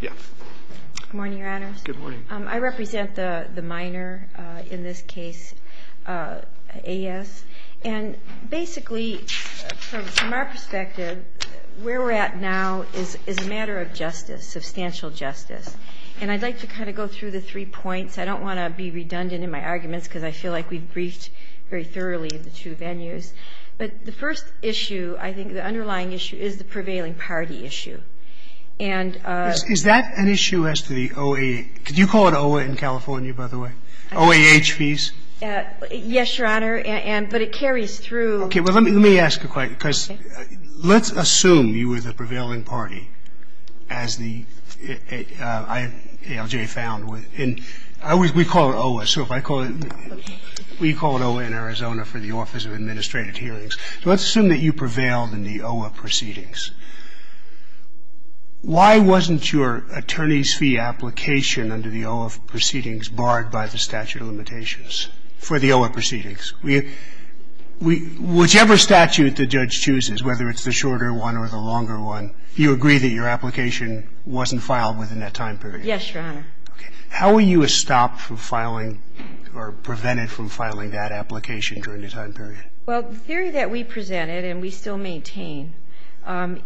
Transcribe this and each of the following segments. Good morning, Your Honors. Good morning. I represent the minor in this case, A. S. And basically from our perspective, where we're at now is a matter of justice, substantial justice. And I'd like to kind of go through the three points. I don't want to be redundant in my arguments because I feel like we've briefed very thoroughly the two venues. But the first issue, I think the underlying issue, is the prevailing party issue. And Is that an issue as to the OAH? Could you call it OAH in California, by the way? OAH fees? Yes, Your Honor. And but it carries through Okay. Well, let me ask a question because let's assume you were the prevailing party as the ALJ found. And we call it OAH. So if I call it We call it OAH in Arizona for the Office of Administrative Hearings. So let's assume that you prevailed in the OAH proceedings. Why wasn't your attorney's fee application under the OAH proceedings barred by the statute of limitations for the OAH proceedings? Whichever statute the judge chooses, whether it's the shorter one or the longer one, you agree that your application wasn't filed within that time period? Yes, Your Honor. Okay. How were you stopped from filing or prevented from filing that application during that time period? Well, the theory that we presented and we still maintain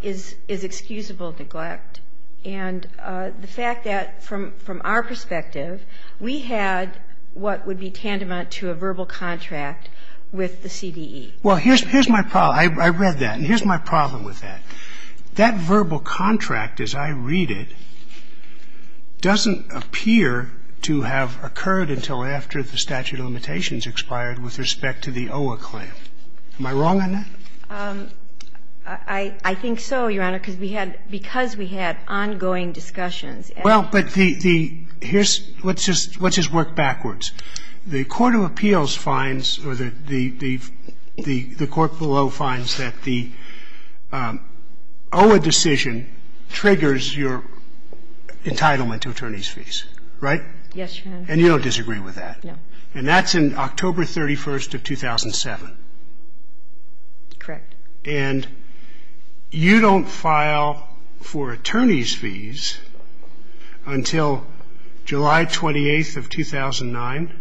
is excusable neglect. And the fact that from our perspective, we had what would be tandemant to a verbal contract with the CDE. Well, here's my problem. I read that. And here's my problem with that. That verbal contract as I read it doesn't appear to have occurred until after the statute of limitations expired with respect to the OAH claim. Am I wrong on that? I think so, Your Honor, because we had ongoing discussions. Well, but the here's what's just worked backwards. The court of appeals finds or the court below finds that the OAH decision triggers your entitlement to attorney's fees, right? Yes, Your Honor. And you don't disagree with that? No. And that's in October 31st of 2007? Correct. And you don't file for attorney's fees until July 28th of 2009,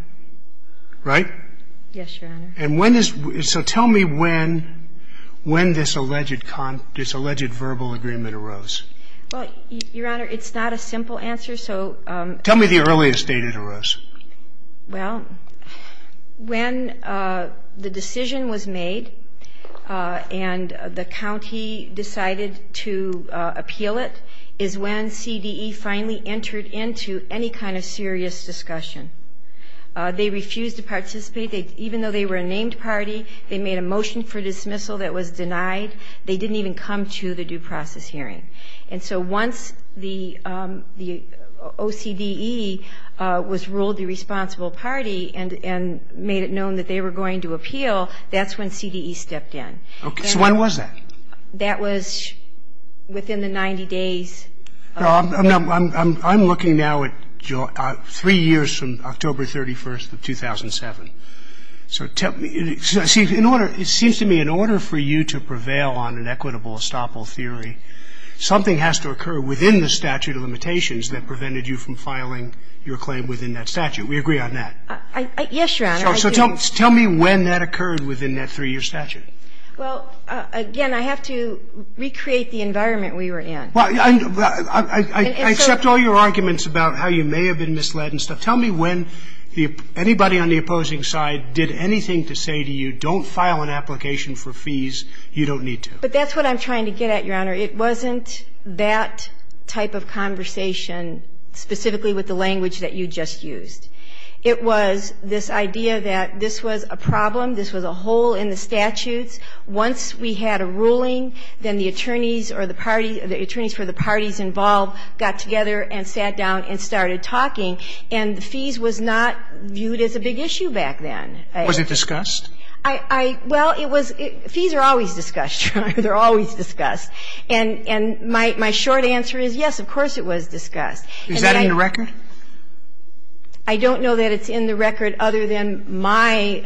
right? Yes, Your Honor. And when is – so tell me when this alleged verbal agreement arose? Well, Your Honor, it's not a simple answer, so – Tell me the earliest date it arose. Well, when the decision was made and the county decided to appeal it is when CDE finally entered into any kind of serious discussion. They refused to participate. Even though they were a named party, they made a motion for dismissal that was denied. They didn't even come to the due process hearing. And so once the OCDE was ruled the responsible party and made it known that they were going to appeal, that's when CDE stepped in. Okay. So when was that? That was within the 90 days. I'm looking now at three years from October 31st of 2007. So tell me – see, in order – it seems to me in order for you to prevail on an equitable estoppel theory, something has to occur within the statute of limitations that prevented you from filing your claim within that statute. We agree on that. Yes, Your Honor. So tell me when that occurred within that three-year statute. Well, again, I have to recreate the environment we were in. Well, I accept all your arguments about how you may have been misled and stuff. Tell me when anybody on the opposing side did anything to say to you, if you don't file an application for fees, you don't need to. But that's what I'm trying to get at, Your Honor. It wasn't that type of conversation specifically with the language that you just used. It was this idea that this was a problem, this was a hole in the statutes. Once we had a ruling, then the attorneys or the party – the attorneys for the parties involved got together and sat down and started talking. And the fees was not viewed as a big issue back then. Was it discussed? I – well, it was – fees are always discussed, Your Honor. They're always discussed. And my short answer is, yes, of course it was discussed. Is that in the record? I don't know that it's in the record other than my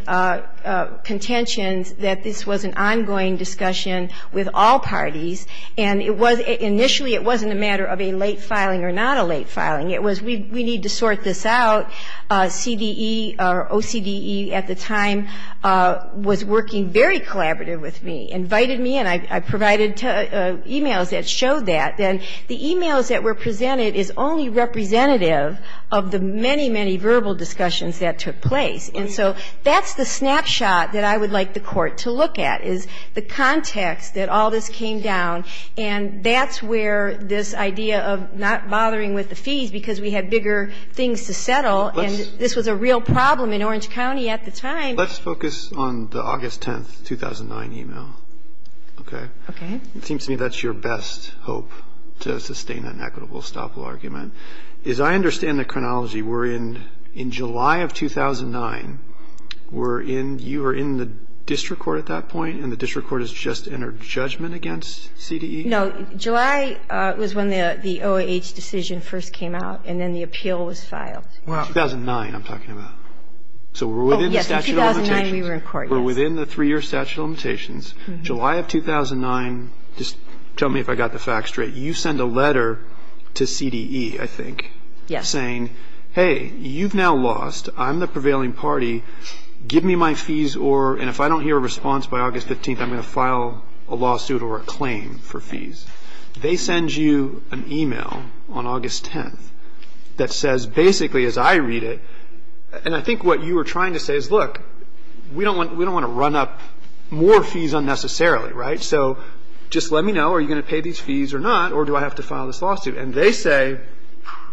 contentions that this was an ongoing discussion with all parties, and it was – initially it wasn't a matter of a late filing or not a late filing. It was we need to sort this out. CDE or OCDE at the time was working very collaborative with me, invited me, and I provided emails that showed that. And the emails that were presented is only representative of the many, many verbal discussions that took place. And so that's the snapshot that I would like the Court to look at, is the context that all this came down, and that's where this idea of not bothering with the fees because we had bigger things to settle, and this was a real problem in Orange County at the time. Let's focus on the August 10, 2009 email, okay? Okay. It seems to me that's your best hope to sustain an equitable estoppel argument. As I understand the chronology, we're in – in July of 2009, we're in – you were in the district court at that point, and the district court has just entered judgment against CDE? No. July was when the OAH decision first came out, and then the appeal was filed. Well, 2009 I'm talking about. So we're within the statute of limitations. Oh, yes. In 2009, we were in court, yes. We're within the three-year statute of limitations. July of 2009 – just tell me if I got the facts straight. You send a letter to CDE, I think, saying, hey, you've now lost. I'm the prevailing party. Give me my fees or – and if I don't hear a response by August 15, I'm going to file a lawsuit or a claim for fees. They send you an e-mail on August 10 that says basically, as I read it – and I think what you were trying to say is, look, we don't want to run up more fees unnecessarily, right? So just let me know, are you going to pay these fees or not, or do I have to file this lawsuit? And they say –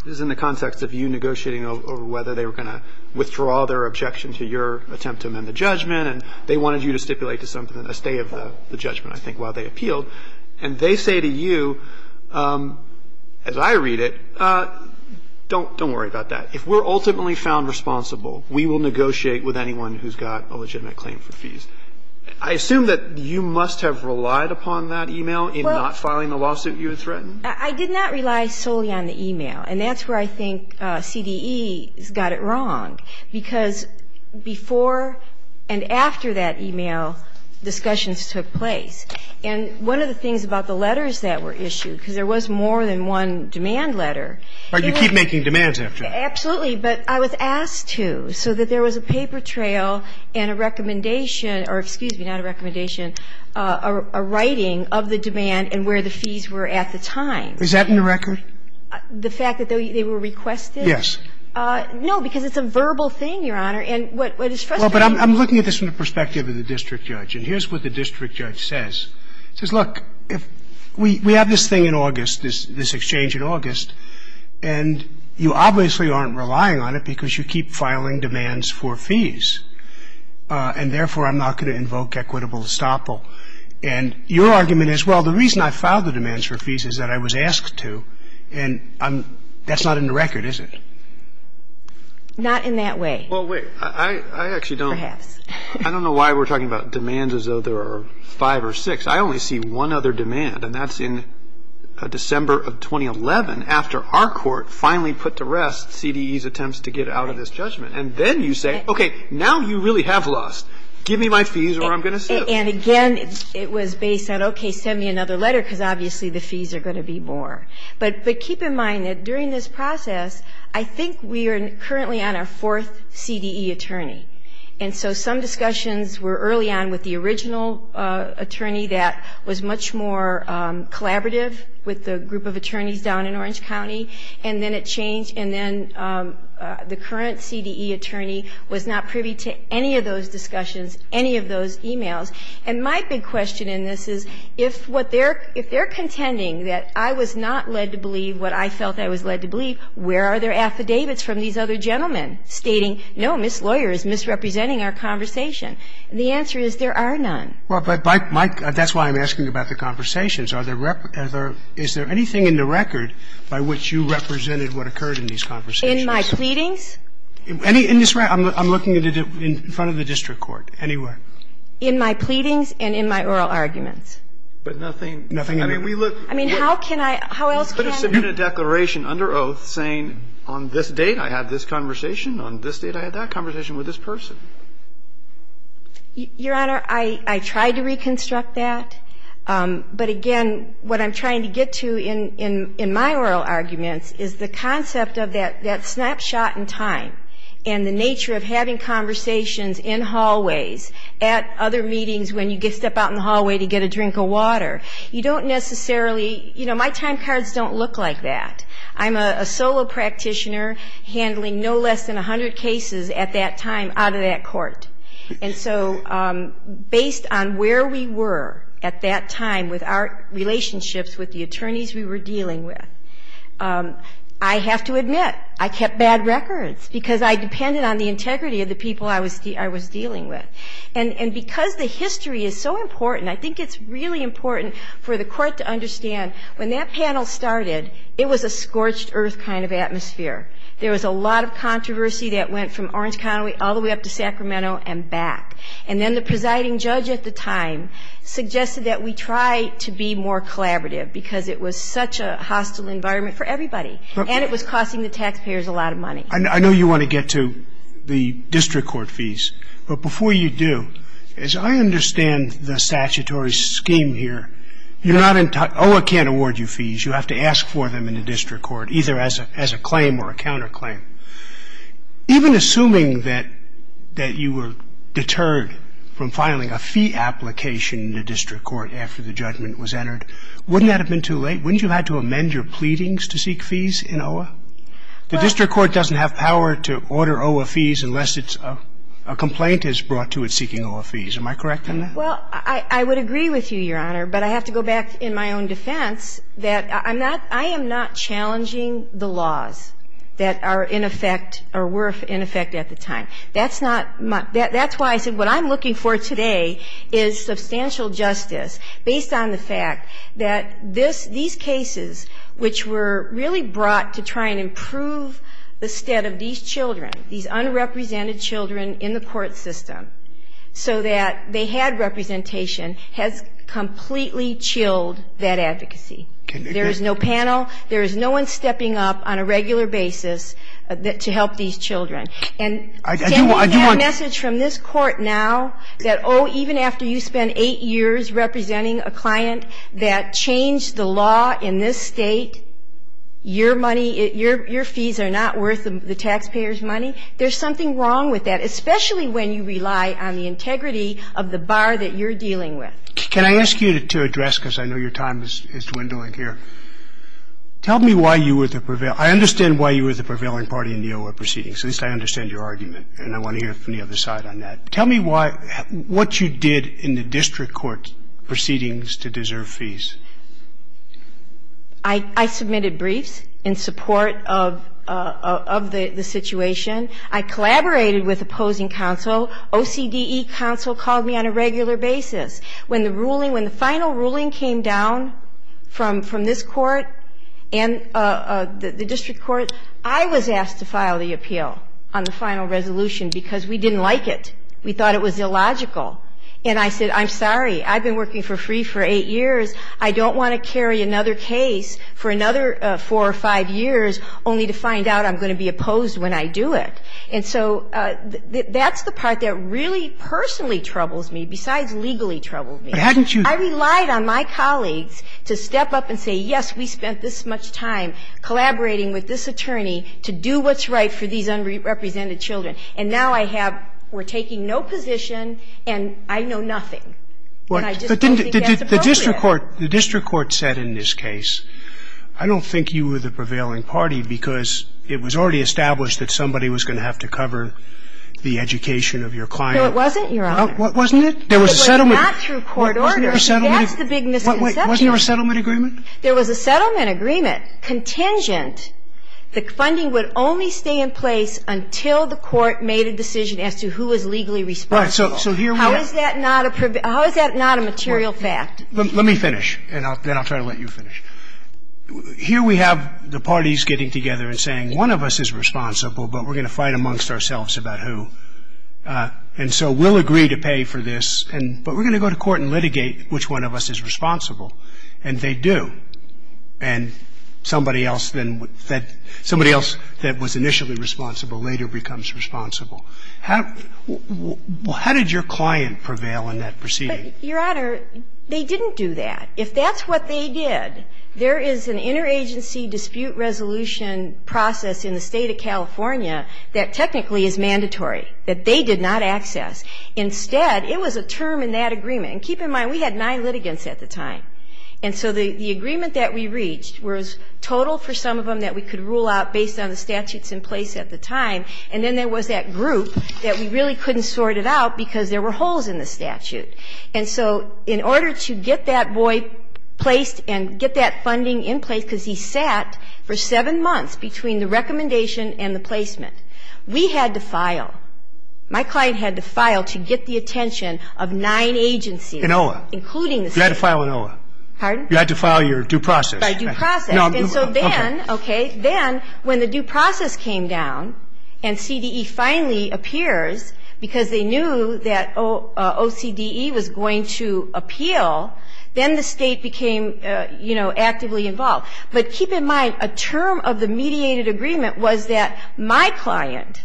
this is in the context of you negotiating over whether they were going to withdraw their objection to your attempt to amend the judgment, and they wanted you to stipulate a stay of the judgment, I think, while they appealed. And they say to you, as I read it, don't worry about that. If we're ultimately found responsible, we will negotiate with anyone who's got a legitimate claim for fees. I assume that you must have relied upon that e-mail in not filing the lawsuit you had threatened? I did not rely solely on the e-mail, and that's where I think CDE has got it wrong, because before and after that e-mail, discussions took place. And one of the things about the letters that were issued, because there was more than one demand letter, it was – But you keep making demands after that. Absolutely. But I was asked to, so that there was a paper trail and a recommendation – or excuse me, not a recommendation – a writing of the demand and where the fees were at the time. Is that in the record? The fact that they were requested? No, because it's a verbal thing, Your Honor. And what is frustrating – Well, but I'm looking at this from the perspective of the district judge. And here's what the district judge says. He says, look, we have this thing in August, this exchange in August, and you obviously aren't relying on it because you keep filing demands for fees. And therefore, I'm not going to invoke equitable estoppel. And your argument is, well, the reason I filed the demands for fees is that I was asked to, and I'm – that's not in the record, is it? Not in that way. Well, wait. I actually don't – Perhaps. I don't know why we're talking about demands as though there are five or six. I only see one other demand, and that's in December of 2011, after our court finally put to rest CDE's attempts to get out of this judgment. And then you say, okay, now you really have lost. Give me my fees or I'm going to sue. And again, it was based on, okay, send me another letter because obviously the fees are going to be more. But keep in mind that during this process, I think we are currently on our fourth CDE attorney. And so some discussions were early on with the original attorney that was much more collaborative with the group of attorneys down in Orange County. And then it changed, and then the current CDE attorney was not privy to any of those discussions, any of those emails. And my big question in this is, if what they're – if they're contending that I was not led to believe what I felt I was led to believe, where are their affidavits from these other gentlemen stating, no, Ms. Lawyer is misrepresenting our conversation? The answer is there are none. Well, but my – that's why I'm asking about the conversations. Are there – is there anything in the record by which you represented what occurred in these conversations? In my pleadings? In this record? I'm looking at it in front of the district court. Anywhere. In my pleadings and in my oral arguments. But nothing – Nothing in it. I mean, we look – I mean, how can I – how else can I – You could have submitted a declaration under oath saying, on this date I had this conversation, on this date I had that conversation with this person. Your Honor, I tried to reconstruct that. But, again, what I'm trying to get to in my oral arguments is the concept of that snapshot in time and the nature of having conversations in hallways at other meetings when you step out in the hallway to get a drink of water. You don't necessarily – you know, my time cards don't look like that. I'm a solo practitioner handling no less than 100 cases at that time out of that court. And so, based on where we were at that time with our relationships with the because I depended on the integrity of the people I was dealing with. And because the history is so important, I think it's really important for the court to understand when that panel started, it was a scorched earth kind of atmosphere. There was a lot of controversy that went from Orange County all the way up to Sacramento and back. And then the presiding judge at the time suggested that we try to be more collaborative because it was such a hostile environment for everybody. And it was costing the taxpayers a lot of money. I know you want to get to the district court fees, but before you do, as I understand the statutory scheme here, you're not – OAH can't award you fees. You have to ask for them in the district court, either as a claim or a counter claim. Even assuming that you were deterred from filing a fee application in the district court after the judgment was entered, wouldn't that have been too late? Wouldn't you have had to amend your pleadings to seek fees in OAH? The district court doesn't have power to order OAH fees unless it's – a complaint is brought to it seeking OAH fees. Am I correct on that? Well, I would agree with you, Your Honor, but I have to go back in my own defense that I'm not – I am not challenging the laws that are in effect or were in effect at the time. That's not my – that's why I said what I'm looking for today is substantial justice based on the fact that this – these cases, which were really brought to try and improve the stead of these children, these unrepresented children in the court system, so that they had representation, has completely chilled that advocacy. There is no panel. There is no one stepping up on a regular basis to help these children. And can you get a message from this Court now that, oh, even after you spend eight years representing a client that changed the law in this State, your money, your fees are not worth the taxpayers' money? There's something wrong with that, especially when you rely on the integrity of the bar that you're dealing with. Can I ask you to address, because I know your time is dwindling here, tell me why you were the prevailing – I understand why you were the prevailing party in the court proceedings. At least I understand your argument, and I want to hear from the other side on that. Tell me why – what you did in the district court proceedings to deserve fees. I submitted briefs in support of the situation. I collaborated with opposing counsel. OCDE counsel called me on a regular basis. When the ruling – when the final ruling came down from this Court and the district court, I was asked to file the appeal on the final resolution because we didn't like it. We thought it was illogical. And I said, I'm sorry. I've been working for free for eight years. I don't want to carry another case for another four or five years only to find out I'm going to be opposed when I do it. And so that's the part that really personally troubles me, besides legally troubles me. I relied on my colleagues to step up and say, yes, we spent this much time collaborating with this attorney to do what's right for these unrepresented children. And now I have – we're taking no position, and I know nothing. And I just don't think that's appropriate. But didn't the district court – the district court said in this case, I don't think you were the prevailing party because it was already established that somebody was going to have to cover the education of your client. No, it wasn't, Your Honor. Wasn't it? There was a settlement. It was not through court order. Wasn't there a settlement? That's the big misconception. Wasn't there a settlement agreement? There was a settlement agreement contingent. The funding would only stay in place until the court made a decision as to who was legally responsible. Right. So here we have – How is that not a – how is that not a material fact? Let me finish, and then I'll try to let you finish. Here we have the parties getting together and saying, one of us is responsible, but we're going to fight amongst ourselves about who. And so we'll agree to pay for this, but we're going to go to court and litigate which one of us is responsible. And they do. And somebody else then would – somebody else that was initially responsible later becomes responsible. How did your client prevail in that proceeding? Your Honor, they didn't do that. If that's what they did, there is an interagency dispute resolution process in the State of California that technically is mandatory, that they did not access. Instead, it was a term in that agreement. And keep in mind, we had nine litigants at the time. And so the agreement that we reached was total for some of them that we could rule out based on the statutes in place at the time. And then there was that group that we really couldn't sort it out because there were holes in the statute. And so in order to get that boy placed and get that funding in place, because he sat for seven months between the recommendation and the placement, we had to file. My client had to file to get the attention of nine agencies. In OLA. Including the State. You had to file in OLA. Pardon? You had to file your due process. By due process. And so then, okay, then when the due process came down and CDE finally appears because they knew that OCDE was going to appeal, then the State became, you know, actively involved. But keep in mind, a term of the mediated agreement was that my client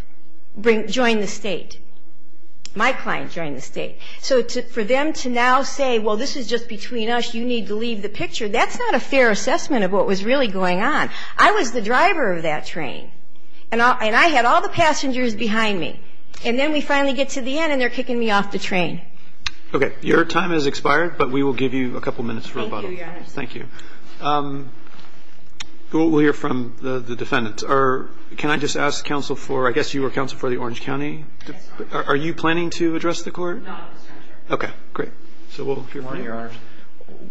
joined the State. My client joined the State. So for them to now say, well, this is just between us, you need to leave the picture, that's not a fair assessment of what was really going on. I was the driver of that train. And I had all the passengers behind me. And then we finally get to the end and they're kicking me off the train. Okay. Your time has expired, but we will give you a couple minutes for rebuttal. Thank you, Your Honor. Thank you. We'll hear from the defendants. Can I just ask counsel for, I guess you were counsel for the Orange County? Are you planning to address the court? No, I'm not. Okay. Great. So we'll hear from you.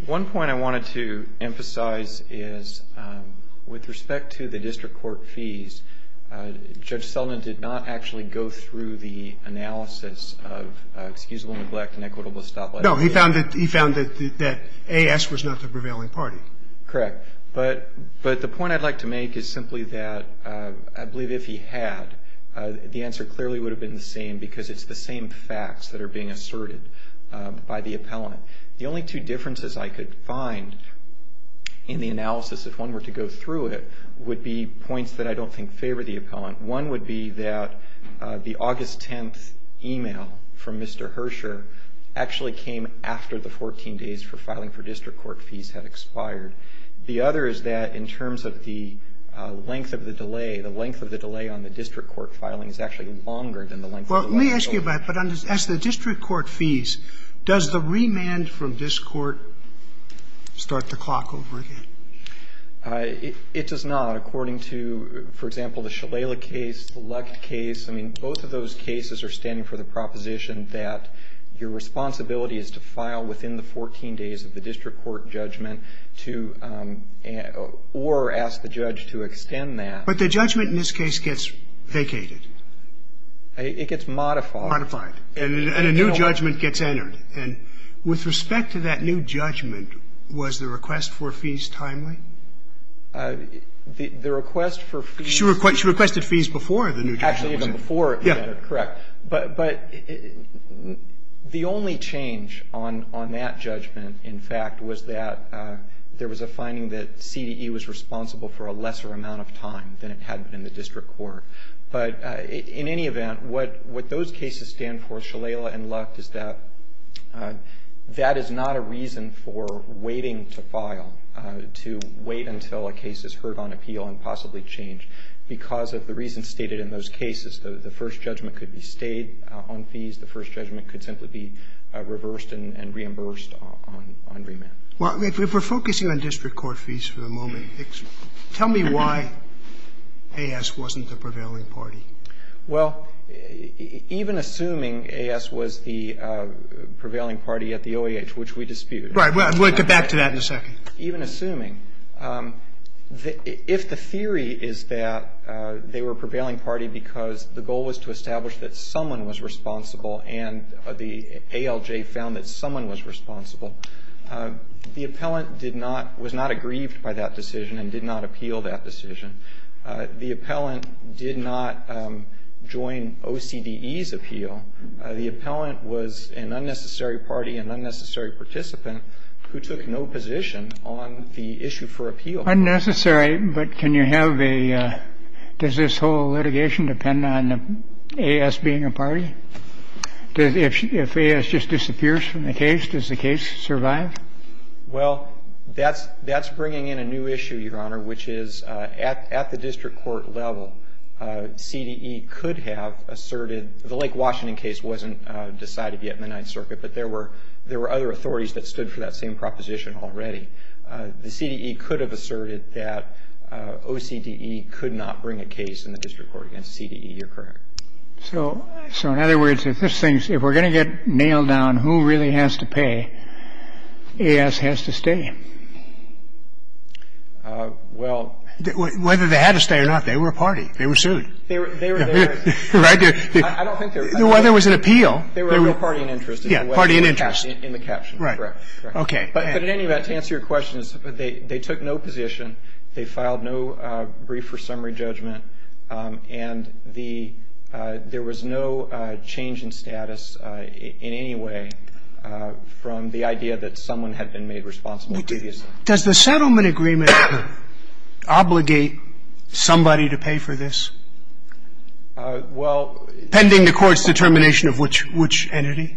One point I wanted to emphasize is with respect to the district court fees, Judge Sullivan did not actually go through the analysis of excusable neglect and equitable stop letting. No, he found that A.S. was not the prevailing party. Correct. But the point I'd like to make is simply that I believe if he had, the answer clearly would have been the same because it's the same facts that are being asserted by the appellant. The only two differences I could find in the analysis, if one were to go through One would be that the August 10th e-mail from Mr. Herscher actually came after the 14 days for filing for district court fees had expired. The other is that in terms of the length of the delay, the length of the delay on the district court filing is actually longer than the length of the delay. Well, let me ask you about it. But as the district court fees, does the remand from this court start the clock over again? It does not. According to, for example, the Shalala case, the Luckt case, I mean, both of those cases are standing for the proposition that your responsibility is to file within the 14 days of the district court judgment to or ask the judge to extend that. But the judgment in this case gets vacated. It gets modified. Modified. And a new judgment gets entered. And with respect to that new judgment, was the request for fees timely? The request for fees. She requested fees before the new judgment. Actually, even before it was entered. Correct. But the only change on that judgment, in fact, was that there was a finding that CDE was responsible for a lesser amount of time than it had been in the district court. But in any event, what those cases stand for, Shalala and Luckt, is that that is not a reason for waiting to file, to wait until a case is heard on appeal and possibly change. Because of the reasons stated in those cases, the first judgment could be stayed on fees. The first judgment could simply be reversed and reimbursed on remand. Well, if we're focusing on district court fees for the moment, tell me why AS wasn't the prevailing party. Well, even assuming AS was the prevailing party at the OEH, which we dispute. Right. We'll get back to that in a second. Even assuming. If the theory is that they were a prevailing party because the goal was to establish that someone was responsible and the ALJ found that someone was responsible, the appellant did not – was not aggrieved by that decision and did not appeal that decision. The appellant did not join OCDE's appeal. The appellant was an unnecessary party, an unnecessary participant who took no position on the issue for appeal. Unnecessary, but can you have a – does this whole litigation depend on AS being a party? If AS just disappears from the case, does the case survive? Well, that's bringing in a new issue, Your Honor, which is at the district court level, CDE could have asserted – the Lake Washington case wasn't decided yet in the Ninth Circuit, but there were other authorities that stood for that same proposition already. The CDE could have asserted that OCDE could not bring a case in the district court against CDE. You're correct. So in other words, if this thing's – if we're going to get nailed down who really has to pay, AS has to stay. Well – Whether they had to stay or not, they were a party. They were sued. They were – Right? I don't think they were. Whether it was an appeal – They were a real party in interest. Yeah, party in interest. In the caption. Right. Okay. But anyway, to answer your question, they took no position. They filed no brief or summary judgment. And the – there was no change in status in any way from the idea that someone had been made responsible previously. Does the settlement agreement obligate somebody to pay for this? Well – Pending the court's determination of which entity?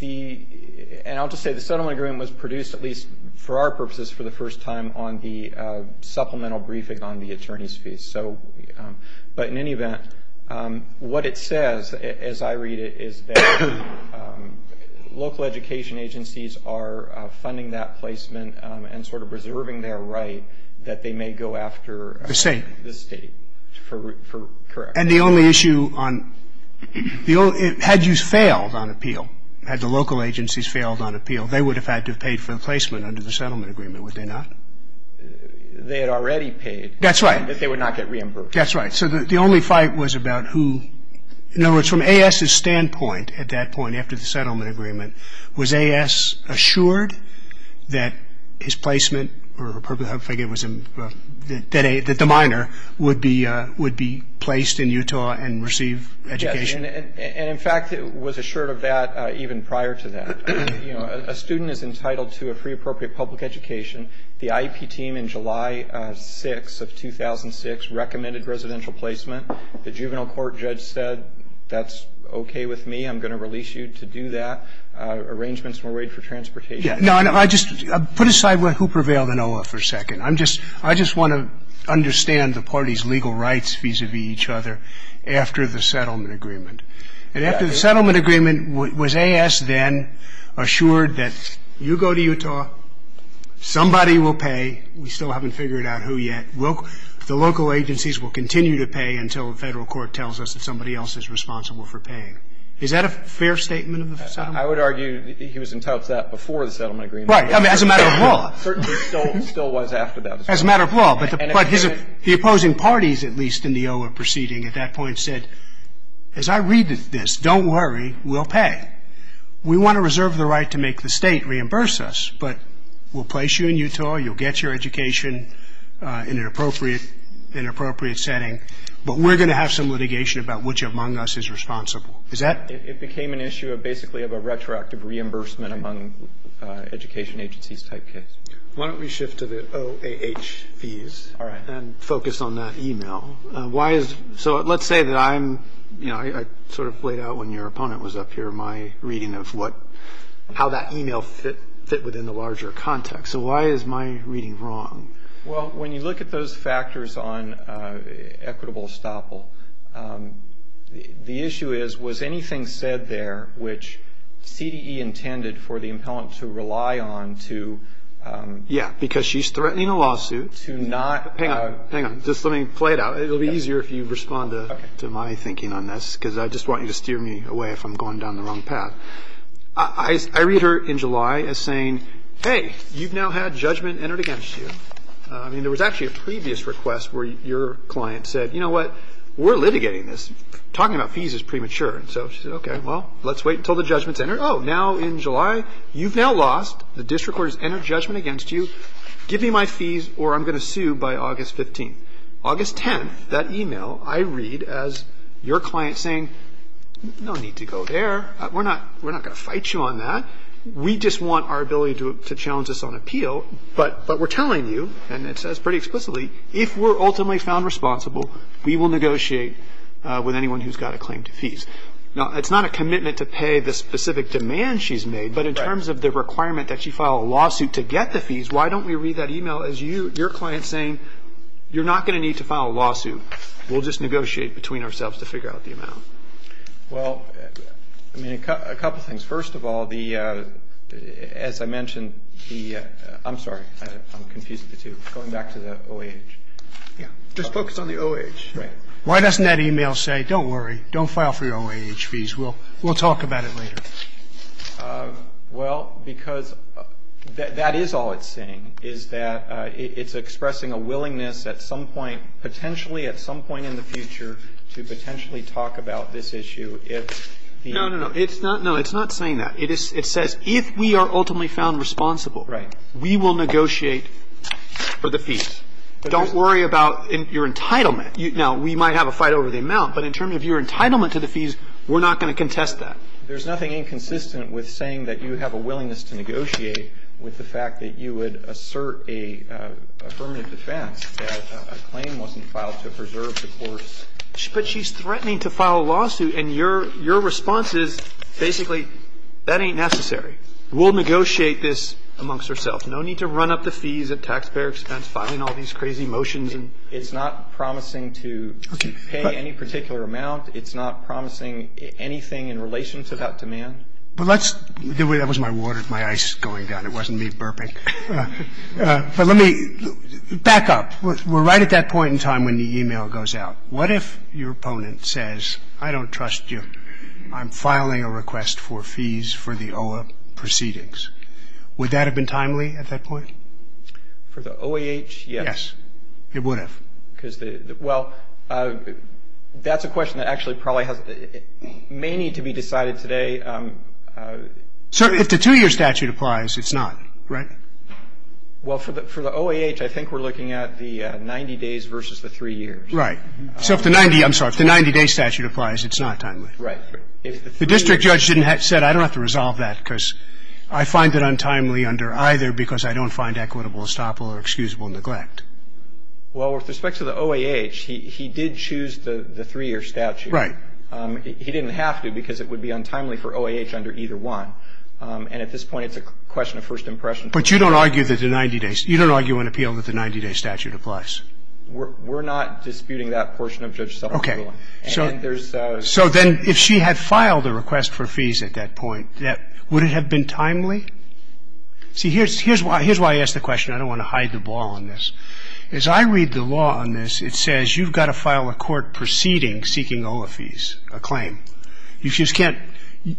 The – and I'll just say the settlement agreement was produced at least for our purposes for the first time on the supplemental briefing on the attorney's fees. So – but in any event, what it says, as I read it, is that local education agencies are funding that placement and sort of preserving their right that they may go after the state for correction. And the only issue on – the only – had you failed on appeal, had the local agencies failed on appeal, they would have had to have paid for the placement under the settlement agreement, would they not? They had already paid. That's right. That they would not get reimbursed. That's right. So the only fight was about who – in other words, from AS's standpoint at that point, after the settlement agreement, was AS assured that his placement – or I forget was – that the minor would be placed in Utah and receive education? Yes. And, in fact, was assured of that even prior to that. You know, a student is entitled to a free appropriate public education. The IEP team in July 6 of 2006 recommended residential placement. The juvenile court judge said that's okay with me. I'm going to release you to do that. Arrangements were made for transportation. Yeah. No, I just – put aside who prevailed in OAH for a second. I'm just – I just want to understand the party's legal rights vis-à-vis each other after the settlement agreement. And after the settlement agreement, was AS then assured that you go to Utah, somebody will pay. We still haven't figured out who yet. The local agencies will continue to pay until the federal court tells us that somebody else is responsible for paying. Is that a fair statement of the settlement? I would argue he was entitled to that before the settlement agreement. Right. I mean, as a matter of law. Certainly still was after that. As a matter of law. But the opposing parties, at least, in the OAH proceeding at that point said, as I read this, don't worry, we'll pay. We want to reserve the right to make the state reimburse us, but we'll place you in Utah, you'll get your education in an appropriate setting, but we're going to have some litigation about which among us is responsible. Is that? It became an issue of basically of a retroactive reimbursement among education agencies type case. Why don't we shift to the OAH fees and focus on that email. So let's say that I sort of played out when your opponent was up here my reading of how that email fit within the larger context. So why is my reading wrong? Well, when you look at those factors on equitable estoppel, the issue is, was anything said there which CDE intended for the impellent to rely on to... Yeah, because she's threatening a lawsuit. To not... Hang on, just let me play it out. It'll be easier if you respond to my thinking on this, because I just want you to steer me away if I'm going down the wrong path. I read her in July as saying, hey, you've now had judgment entered against you. I mean, there was actually a previous request where your client said, you know what, we're litigating this. Talking about fees is premature. So she said, okay, well, let's wait until the judgment's entered. Oh, now in July, you've now lost. The district court has entered judgment against you. Give me my fees or I'm going to sue by August 15th. August 10th, that email, I read as your client saying, no need to go there. We're not going to fight you on that. We just want our ability to challenge us on appeal, but we're telling you, and it says pretty explicitly, if we're ultimately found responsible, we will negotiate with anyone who's got a claim to fees. Now, it's not a commitment to pay the specific demand she's made, but in terms of the requirement that you file a lawsuit to get the fees, why don't we read that email as your client saying, you're not going to need to file a lawsuit. We'll just negotiate between ourselves to figure out the amount. Well, I mean, a couple things. First of all, as I mentioned, the ‑‑ I'm sorry. I'm confused with the two. Going back to the OAH. Just focus on the OAH. Right. Why doesn't that email say, don't worry, don't file for your OAH fees. We'll talk about it later. Well, because that is all it's saying is that it's expressing a willingness at some point, potentially at some point in the future, to potentially talk about this issue if the ‑‑ No, no, no. It's not saying that. It says if we are ultimately found responsible, we will negotiate for the fees. Don't worry about your entitlement. Now, we might have a fight over the amount, but in terms of your entitlement to the fees, we're not going to contest that. There's nothing inconsistent with saying that you have a willingness to negotiate with the fact that you would assert a affirmative defense that a claim wasn't filed to preserve the court's ‑‑ But she's threatening to file a lawsuit, and your response is basically, that ain't necessary. We'll negotiate this amongst ourselves. No need to run up the fees at taxpayer expense filing all these crazy motions. It's not promising to pay any particular amount. It's not promising anything in relation to that demand. But let's ‑‑ that was my water, my ice going down. It wasn't me burping. But let me ‑‑ back up. We're right at that point in time when the e‑mail goes out. What if your opponent says, I don't trust you. I'm filing a request for fees for the OAH proceedings. Would that have been timely at that point? For the OAH, yes. Yes. It would have. Well, that's a question that actually probably may need to be decided today. So if the two‑year statute applies, it's not, right? Well, for the OAH, I think we're looking at the 90 days versus the three years. Right. So if the 90 ‑‑ I'm sorry. If the 90‑day statute applies, it's not timely. Right. The district judge said, I don't have to resolve that because I find it untimely under either because I don't find equitable estoppel or excusable neglect. Well, with respect to the OAH, he did choose the three‑year statute. Right. He didn't have to because it would be untimely for OAH under either one. And at this point, it's a question of first impression. But you don't argue that the 90‑day ‑‑ you don't argue and appeal that the 90‑day statute applies? We're not disputing that portion of Judge Sullivan's ruling. Okay. And there's ‑‑ So then if she had filed a request for fees at that point, would it have been timely? See, here's why I asked the question. I don't want to hide the ball on this. As I read the law on this, it says you've got to file a court proceeding seeking OAH fees, a claim. You just can't ‑‑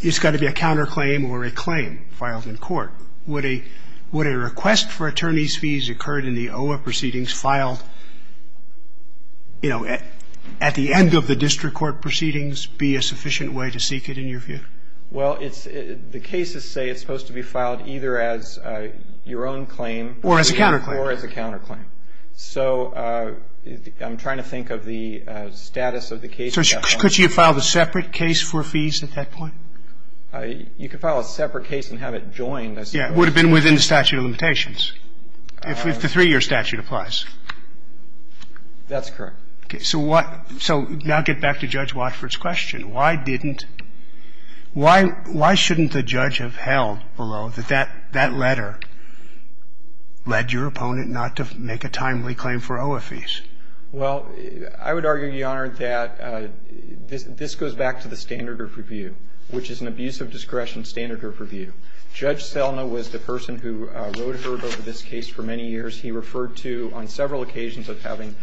it's got to be a counterclaim or a claim filed in court. Would a request for attorney's fees occurred in the OAH proceedings filed, you know, at the end of the district court proceedings be a sufficient way to seek it in your view? Well, it's ‑‑ the cases say it's supposed to be filed either as your own claim. Or as a counterclaim. Or as a counterclaim. So I'm trying to think of the status of the case at that point. So could she have filed a separate case for fees at that point? You could file a separate case and have it joined, I suppose. Yeah. It would have been within the statute of limitations if the three‑year statute applies. That's correct. Okay. So what ‑‑ so now get back to Judge Watford's question. Why didn't ‑‑ why shouldn't the judge have held below that that letter led your opponent not to make a timely claim for OAH fees? Well, I would argue, Your Honor, that this goes back to the standard of review, which is an abuse of discretion standard of review. Judge Selma was the person who wrote her over this case for many years. He referred to, on several occasions of having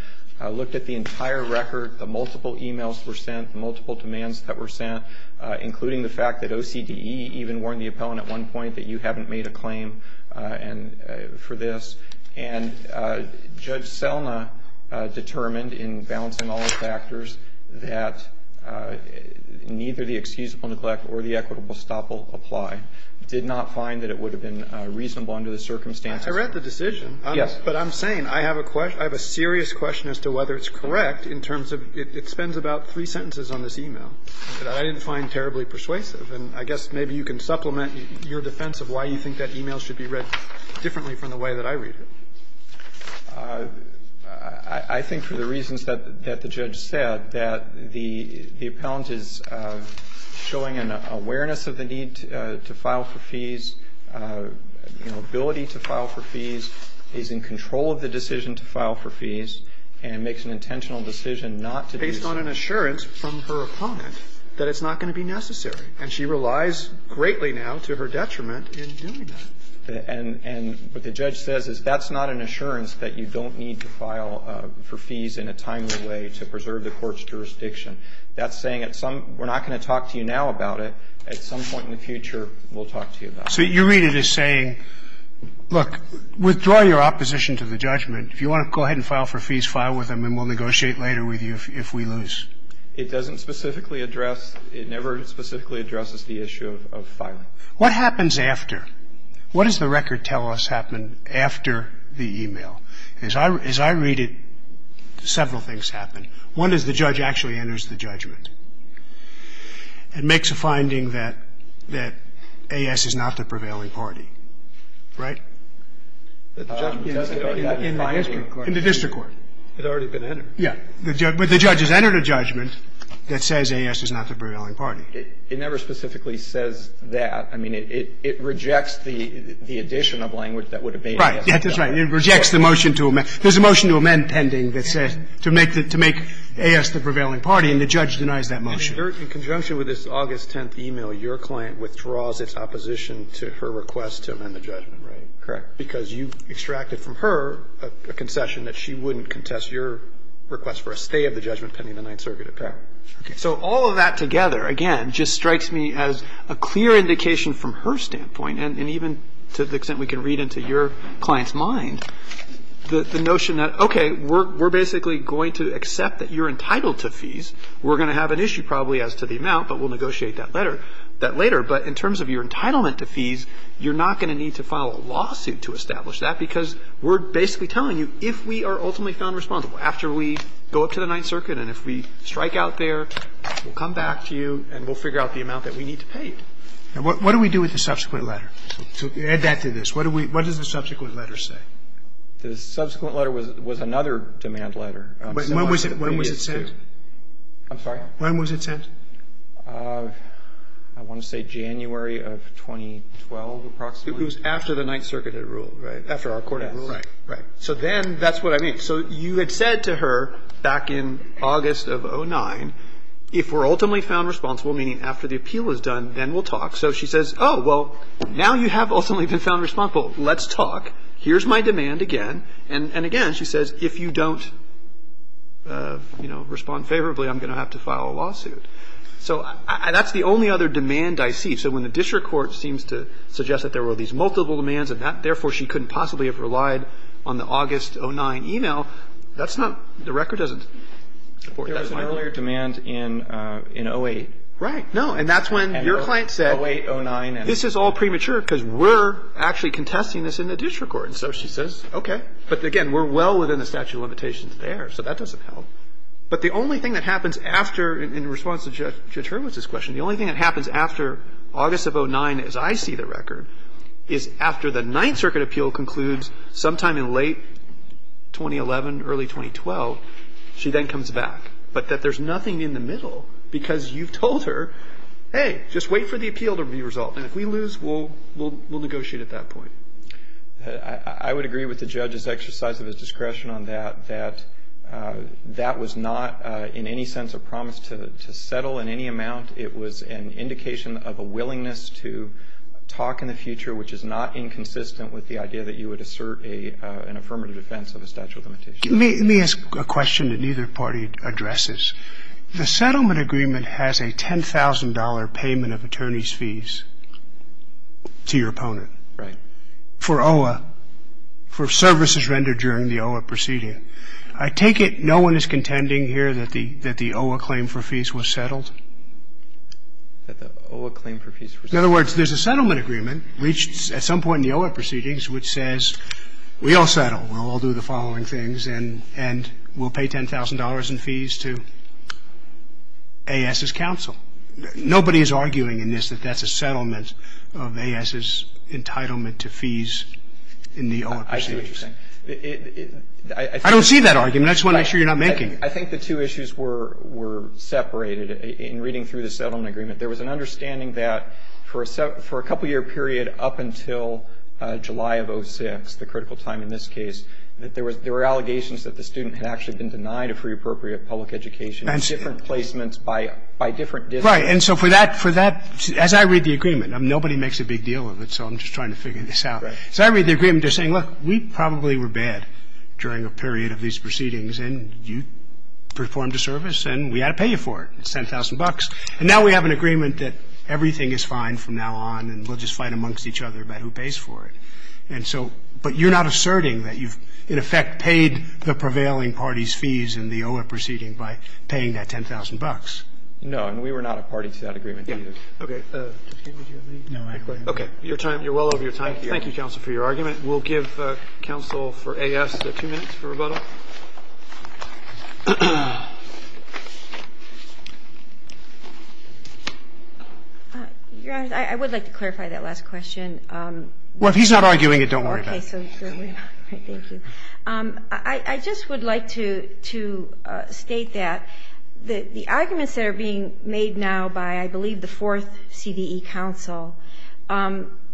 looked at the entire record, the multiple emails that were sent, the multiple demands that were sent, including the fact that OCDE even warned the appellant at one point that you haven't made a claim for this. And Judge Selma determined in balancing all the factors that neither the excusable neglect or the equitable stop will apply. Did not find that it would have been reasonable under the circumstances. I read the decision. Yes. But I'm saying I have a serious question as to whether it's correct in terms of it spends about three sentences on this email that I didn't find terribly persuasive. And I guess maybe you can supplement your defense of why you think that email should be read differently from the way that I read it. I think for the reasons that the judge said, that the appellant is showing an awareness of the need to file for fees, ability to file for fees, is in control of the decision to file for fees, and makes an intentional decision not to do so. Based on an assurance from her opponent that it's not going to be necessary. And she relies greatly now to her detriment in doing that. And what the judge says is that's not an assurance that you don't need to file for fees in a timely way to preserve the court's jurisdiction. That's saying we're not going to talk to you now about it. At some point in the future, we'll talk to you about it. So you read it as saying, look, withdraw your opposition to the judgment. If you want to go ahead and file for fees, file with them, and we'll negotiate later with you if we lose. It doesn't specifically address, it never specifically addresses the issue of filing. What happens after? What does the record tell us happened after the email? As I read it, several things happen. One is the judge actually enters the judgment. And makes a finding that A.S. is not the prevailing party. Right? In the district court. It's already been entered. Yeah. But the judge has entered a judgment that says A.S. is not the prevailing party. It never specifically says that. I mean, it rejects the addition of language that would have made it. Right. That's right. It rejects the motion to amend. There's a motion to amend pending that says to make A.S. the prevailing party. And the judge denies that motion. In conjunction with this August 10th email, your client withdraws its opposition to her request to amend the judgment, right? Correct. Because you extracted from her a concession that she wouldn't contest your request for a stay of the judgment pending the Ninth Circuit attack. Okay. So all of that together, again, just strikes me as a clear indication from her standpoint, and even to the extent we can read into your client's mind, the notion that, okay, we're basically going to accept that you're entitled to fees. We're going to have an issue, probably, as to the amount, but we'll negotiate that later. But in terms of your entitlement to fees, you're not going to need to file a lawsuit to establish that because we're basically telling you if we are ultimately found responsible after we go up to the Ninth Circuit and if we strike out there, we'll come back to you and we'll figure out the amount that we need to pay. And what do we do with the subsequent letter? To add that to this, what does the subsequent letter say? The subsequent letter was another demand letter. When was it sent? I'm sorry? When was it sent? I want to say January of 2012, approximately. It was after the Ninth Circuit had ruled, right? After our court had ruled. Right, right. So then that's what I mean. So you had said to her back in August of 2009, if we're ultimately found responsible, meaning after the appeal is done, then we'll talk. So she says, oh, well, now you have ultimately been found responsible. Let's talk. Here's my demand again. And again, she says, if you don't respond favorably, I'm going to have to file a lawsuit. So that's the only other demand I see. So when the district court seems to suggest that there were these multiple demands and therefore she couldn't possibly have relied on the August 2009 email, that's not, the record doesn't support that. There was an earlier demand in 2008. Right. No, and that's when your client said, this is all premature because we're actually testing this in the district court. And so she says, okay. But again, we're well within the statute of limitations there. So that doesn't help. But the only thing that happens after, in response to Judge Hurwitz's question, the only thing that happens after August of 2009, as I see the record, is after the Ninth Circuit appeal concludes sometime in late 2011, early 2012, she then comes back, but that there's nothing in the middle because you've told her, hey, just wait for the appeal to be resolved. And if we lose, we'll negotiate at that point. I would agree with the judge's exercise of his discretion on that, that that was not in any sense a promise to settle in any amount. It was an indication of a willingness to talk in the future, which is not inconsistent with the idea that you would assert an affirmative defense of a statute of limitations. Let me ask a question that neither party addresses. The settlement agreement has a $10,000 payment of attorney's fees to your opponent. Right. For OAH, for services rendered during the OAH proceeding. I take it no one is contending here that the OAH claim for fees was settled? That the OAH claim for fees was settled. In other words, there's a settlement agreement reached at some point in the OAH proceedings which says we all settle, we'll all do the following things, and we'll pay $10,000 in fees to A.S.'s counsel. Nobody is arguing in this that that's a settlement of A.S.'s entitlement to fees in the OAH proceedings. I see what you're saying. I don't see that argument. I just want to make sure you're not making. I think the two issues were separated. In reading through the settlement agreement, there was an understanding that for a couple-year period up until July of 06, the critical time in this case, that there were allegations that the student had actually been denied a free appropriate public education, different placements by different districts. Right. And so for that, as I read the agreement, nobody makes a big deal of it, so I'm just trying to figure this out. As I read the agreement, they're saying, look, we probably were bad during a period of these proceedings, and you performed a service and we had to pay you for it, $10,000. And now we have an agreement that everything is fine from now on and we'll just fight amongst each other about who pays for it. And so, but you're not asserting that you've, in effect, paid the prevailing party's fees in the OIP proceeding by paying that $10,000. No, and we were not a party to that agreement either. Okay. Okay. Your time, you're well over your time. Thank you, counsel, for your argument. We'll give counsel for AS two minutes for rebuttal. Your Honor, I would like to clarify that last question. Well, if he's not arguing it, don't worry about it. Okay. Thank you. I just would like to state that the arguments that are being made now by, I believe, the fourth CDE counsel,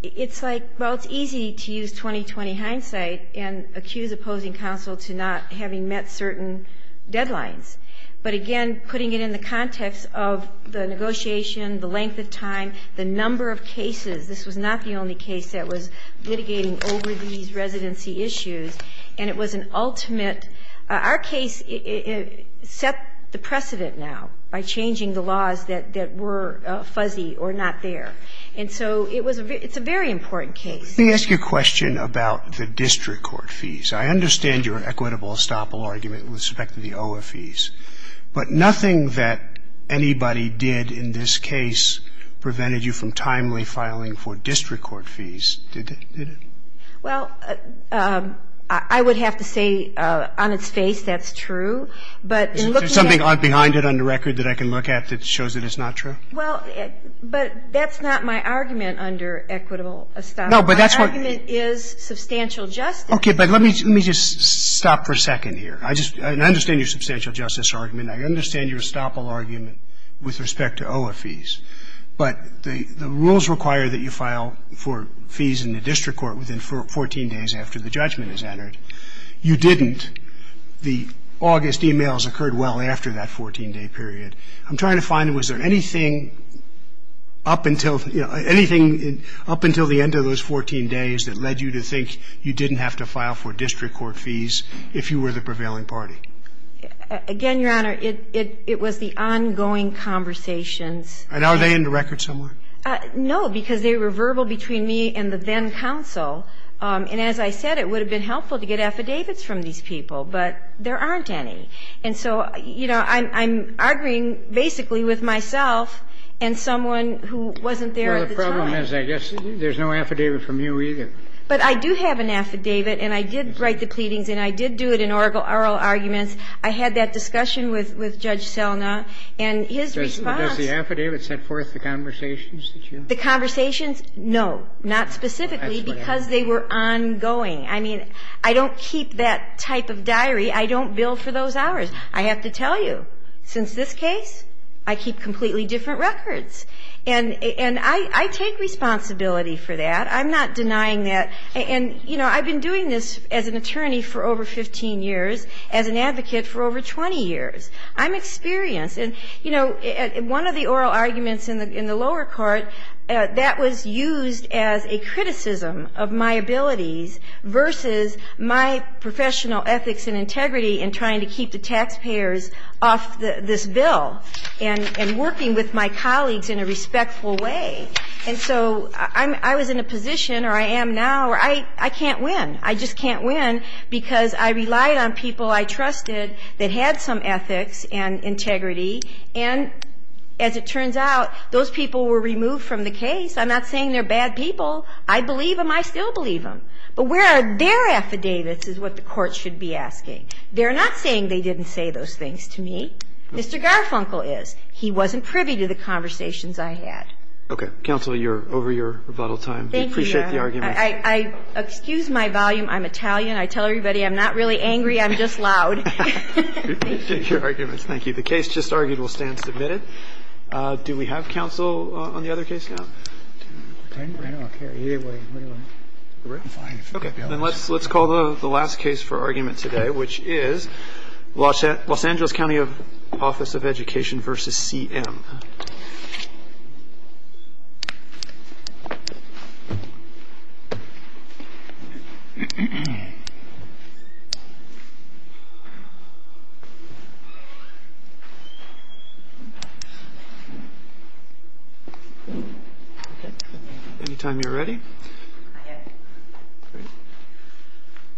it's like, well, it's easy to use 20-20 hindsight and accuse opposing counsel to not having met certain deadlines. But, again, putting it in the context of the negotiation, the length of time, the number of cases. This was not the only case that was litigating over these residency issues. And it was an ultimate. Our case set the precedent now by changing the laws that were fuzzy or not there. And so it's a very important case. Let me ask you a question about the district court fees. I understand your equitable estoppel argument with respect to the OIA fees. But nothing that anybody did in this case prevented you from timely filing for district court fees, did it? Well, I would have to say on its face that's true. But in looking at the record that I can look at that shows that it's not true? Well, but that's not my argument under equitable estoppel. No, but that's what you mean. My argument is substantial justice. Okay. But let me just stop for a second here. I understand your substantial justice argument. I understand your estoppel argument with respect to OIA fees. But the rules require that you file for fees in the district court within 14 days after the judgment is entered. You didn't. The August emails occurred well after that 14-day period. I'm trying to find was there anything up until the end of those 14 days that led you to think you didn't have to file for district court fees if you were the prevailing party? Again, Your Honor, it was the ongoing conversations. And are they in the record somewhere? No, because they were verbal between me and the then counsel. And as I said, it would have been helpful to get affidavits from these people. But there aren't any. And so, you know, I'm arguing basically with myself and someone who wasn't there at the time. Well, the problem is I guess there's no affidavit from you either. But I do have an affidavit, and I did write the pleadings, and I did do it in oral arguments. I had that discussion with Judge Selna. And his response — But does the affidavit set forth the conversations that you — The conversations? No, not specifically, because they were ongoing. I mean, I don't keep that type of diary. I don't bill for those hours. I have to tell you, since this case, I keep completely different records. And I take responsibility for that. I'm not denying that. And, you know, I've been doing this as an attorney for over 15 years, as an advocate for over 20 years. I'm experienced. And, you know, one of the oral arguments in the lower court, that was used as a criticism of my abilities versus my professional ethics and integrity in trying to keep the taxpayers off this bill and working with my colleagues in a respectful way. And so I was in a position, or I am now, where I can't win. I just can't win because I relied on people I trusted that had some ethics and integrity. And as it turns out, those people were removed from the case. I'm not saying they're bad people. I believe them. I still believe them. But where are their affidavits is what the Court should be asking. They're not saying they didn't say those things to me. Mr. Garfunkel is. He wasn't privy to the conversations I had. Okay. Counsel, you're over your rebuttal time. Thank you, Your Honor. We appreciate the argument. Excuse my volume. I'm Italian. I tell everybody I'm not really angry. I'm just loud. We appreciate your arguments. Thank you. The case just argued will stand submitted. Do we have counsel on the other case now? I don't care. Either way. I'm fine. Okay. Then let's call the last case for argument today, which is Los Angeles County Office of Education v. CM. Anytime you're ready. I am.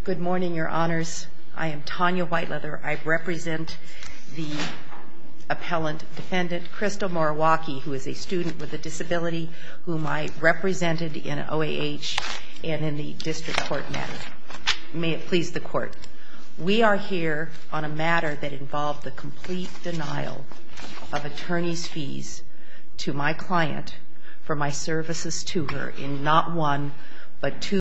Good morning, Your Honors. I am Tanya Whiteleather. I represent the appellant defendant, Crystal Moriwaki, who is a student with a disability whom I represented in OAH and in the district court matter. May it please the Court. We are here on a matter that involved the complete denial of attorney's fees to my client for my services to her in not one but two cases.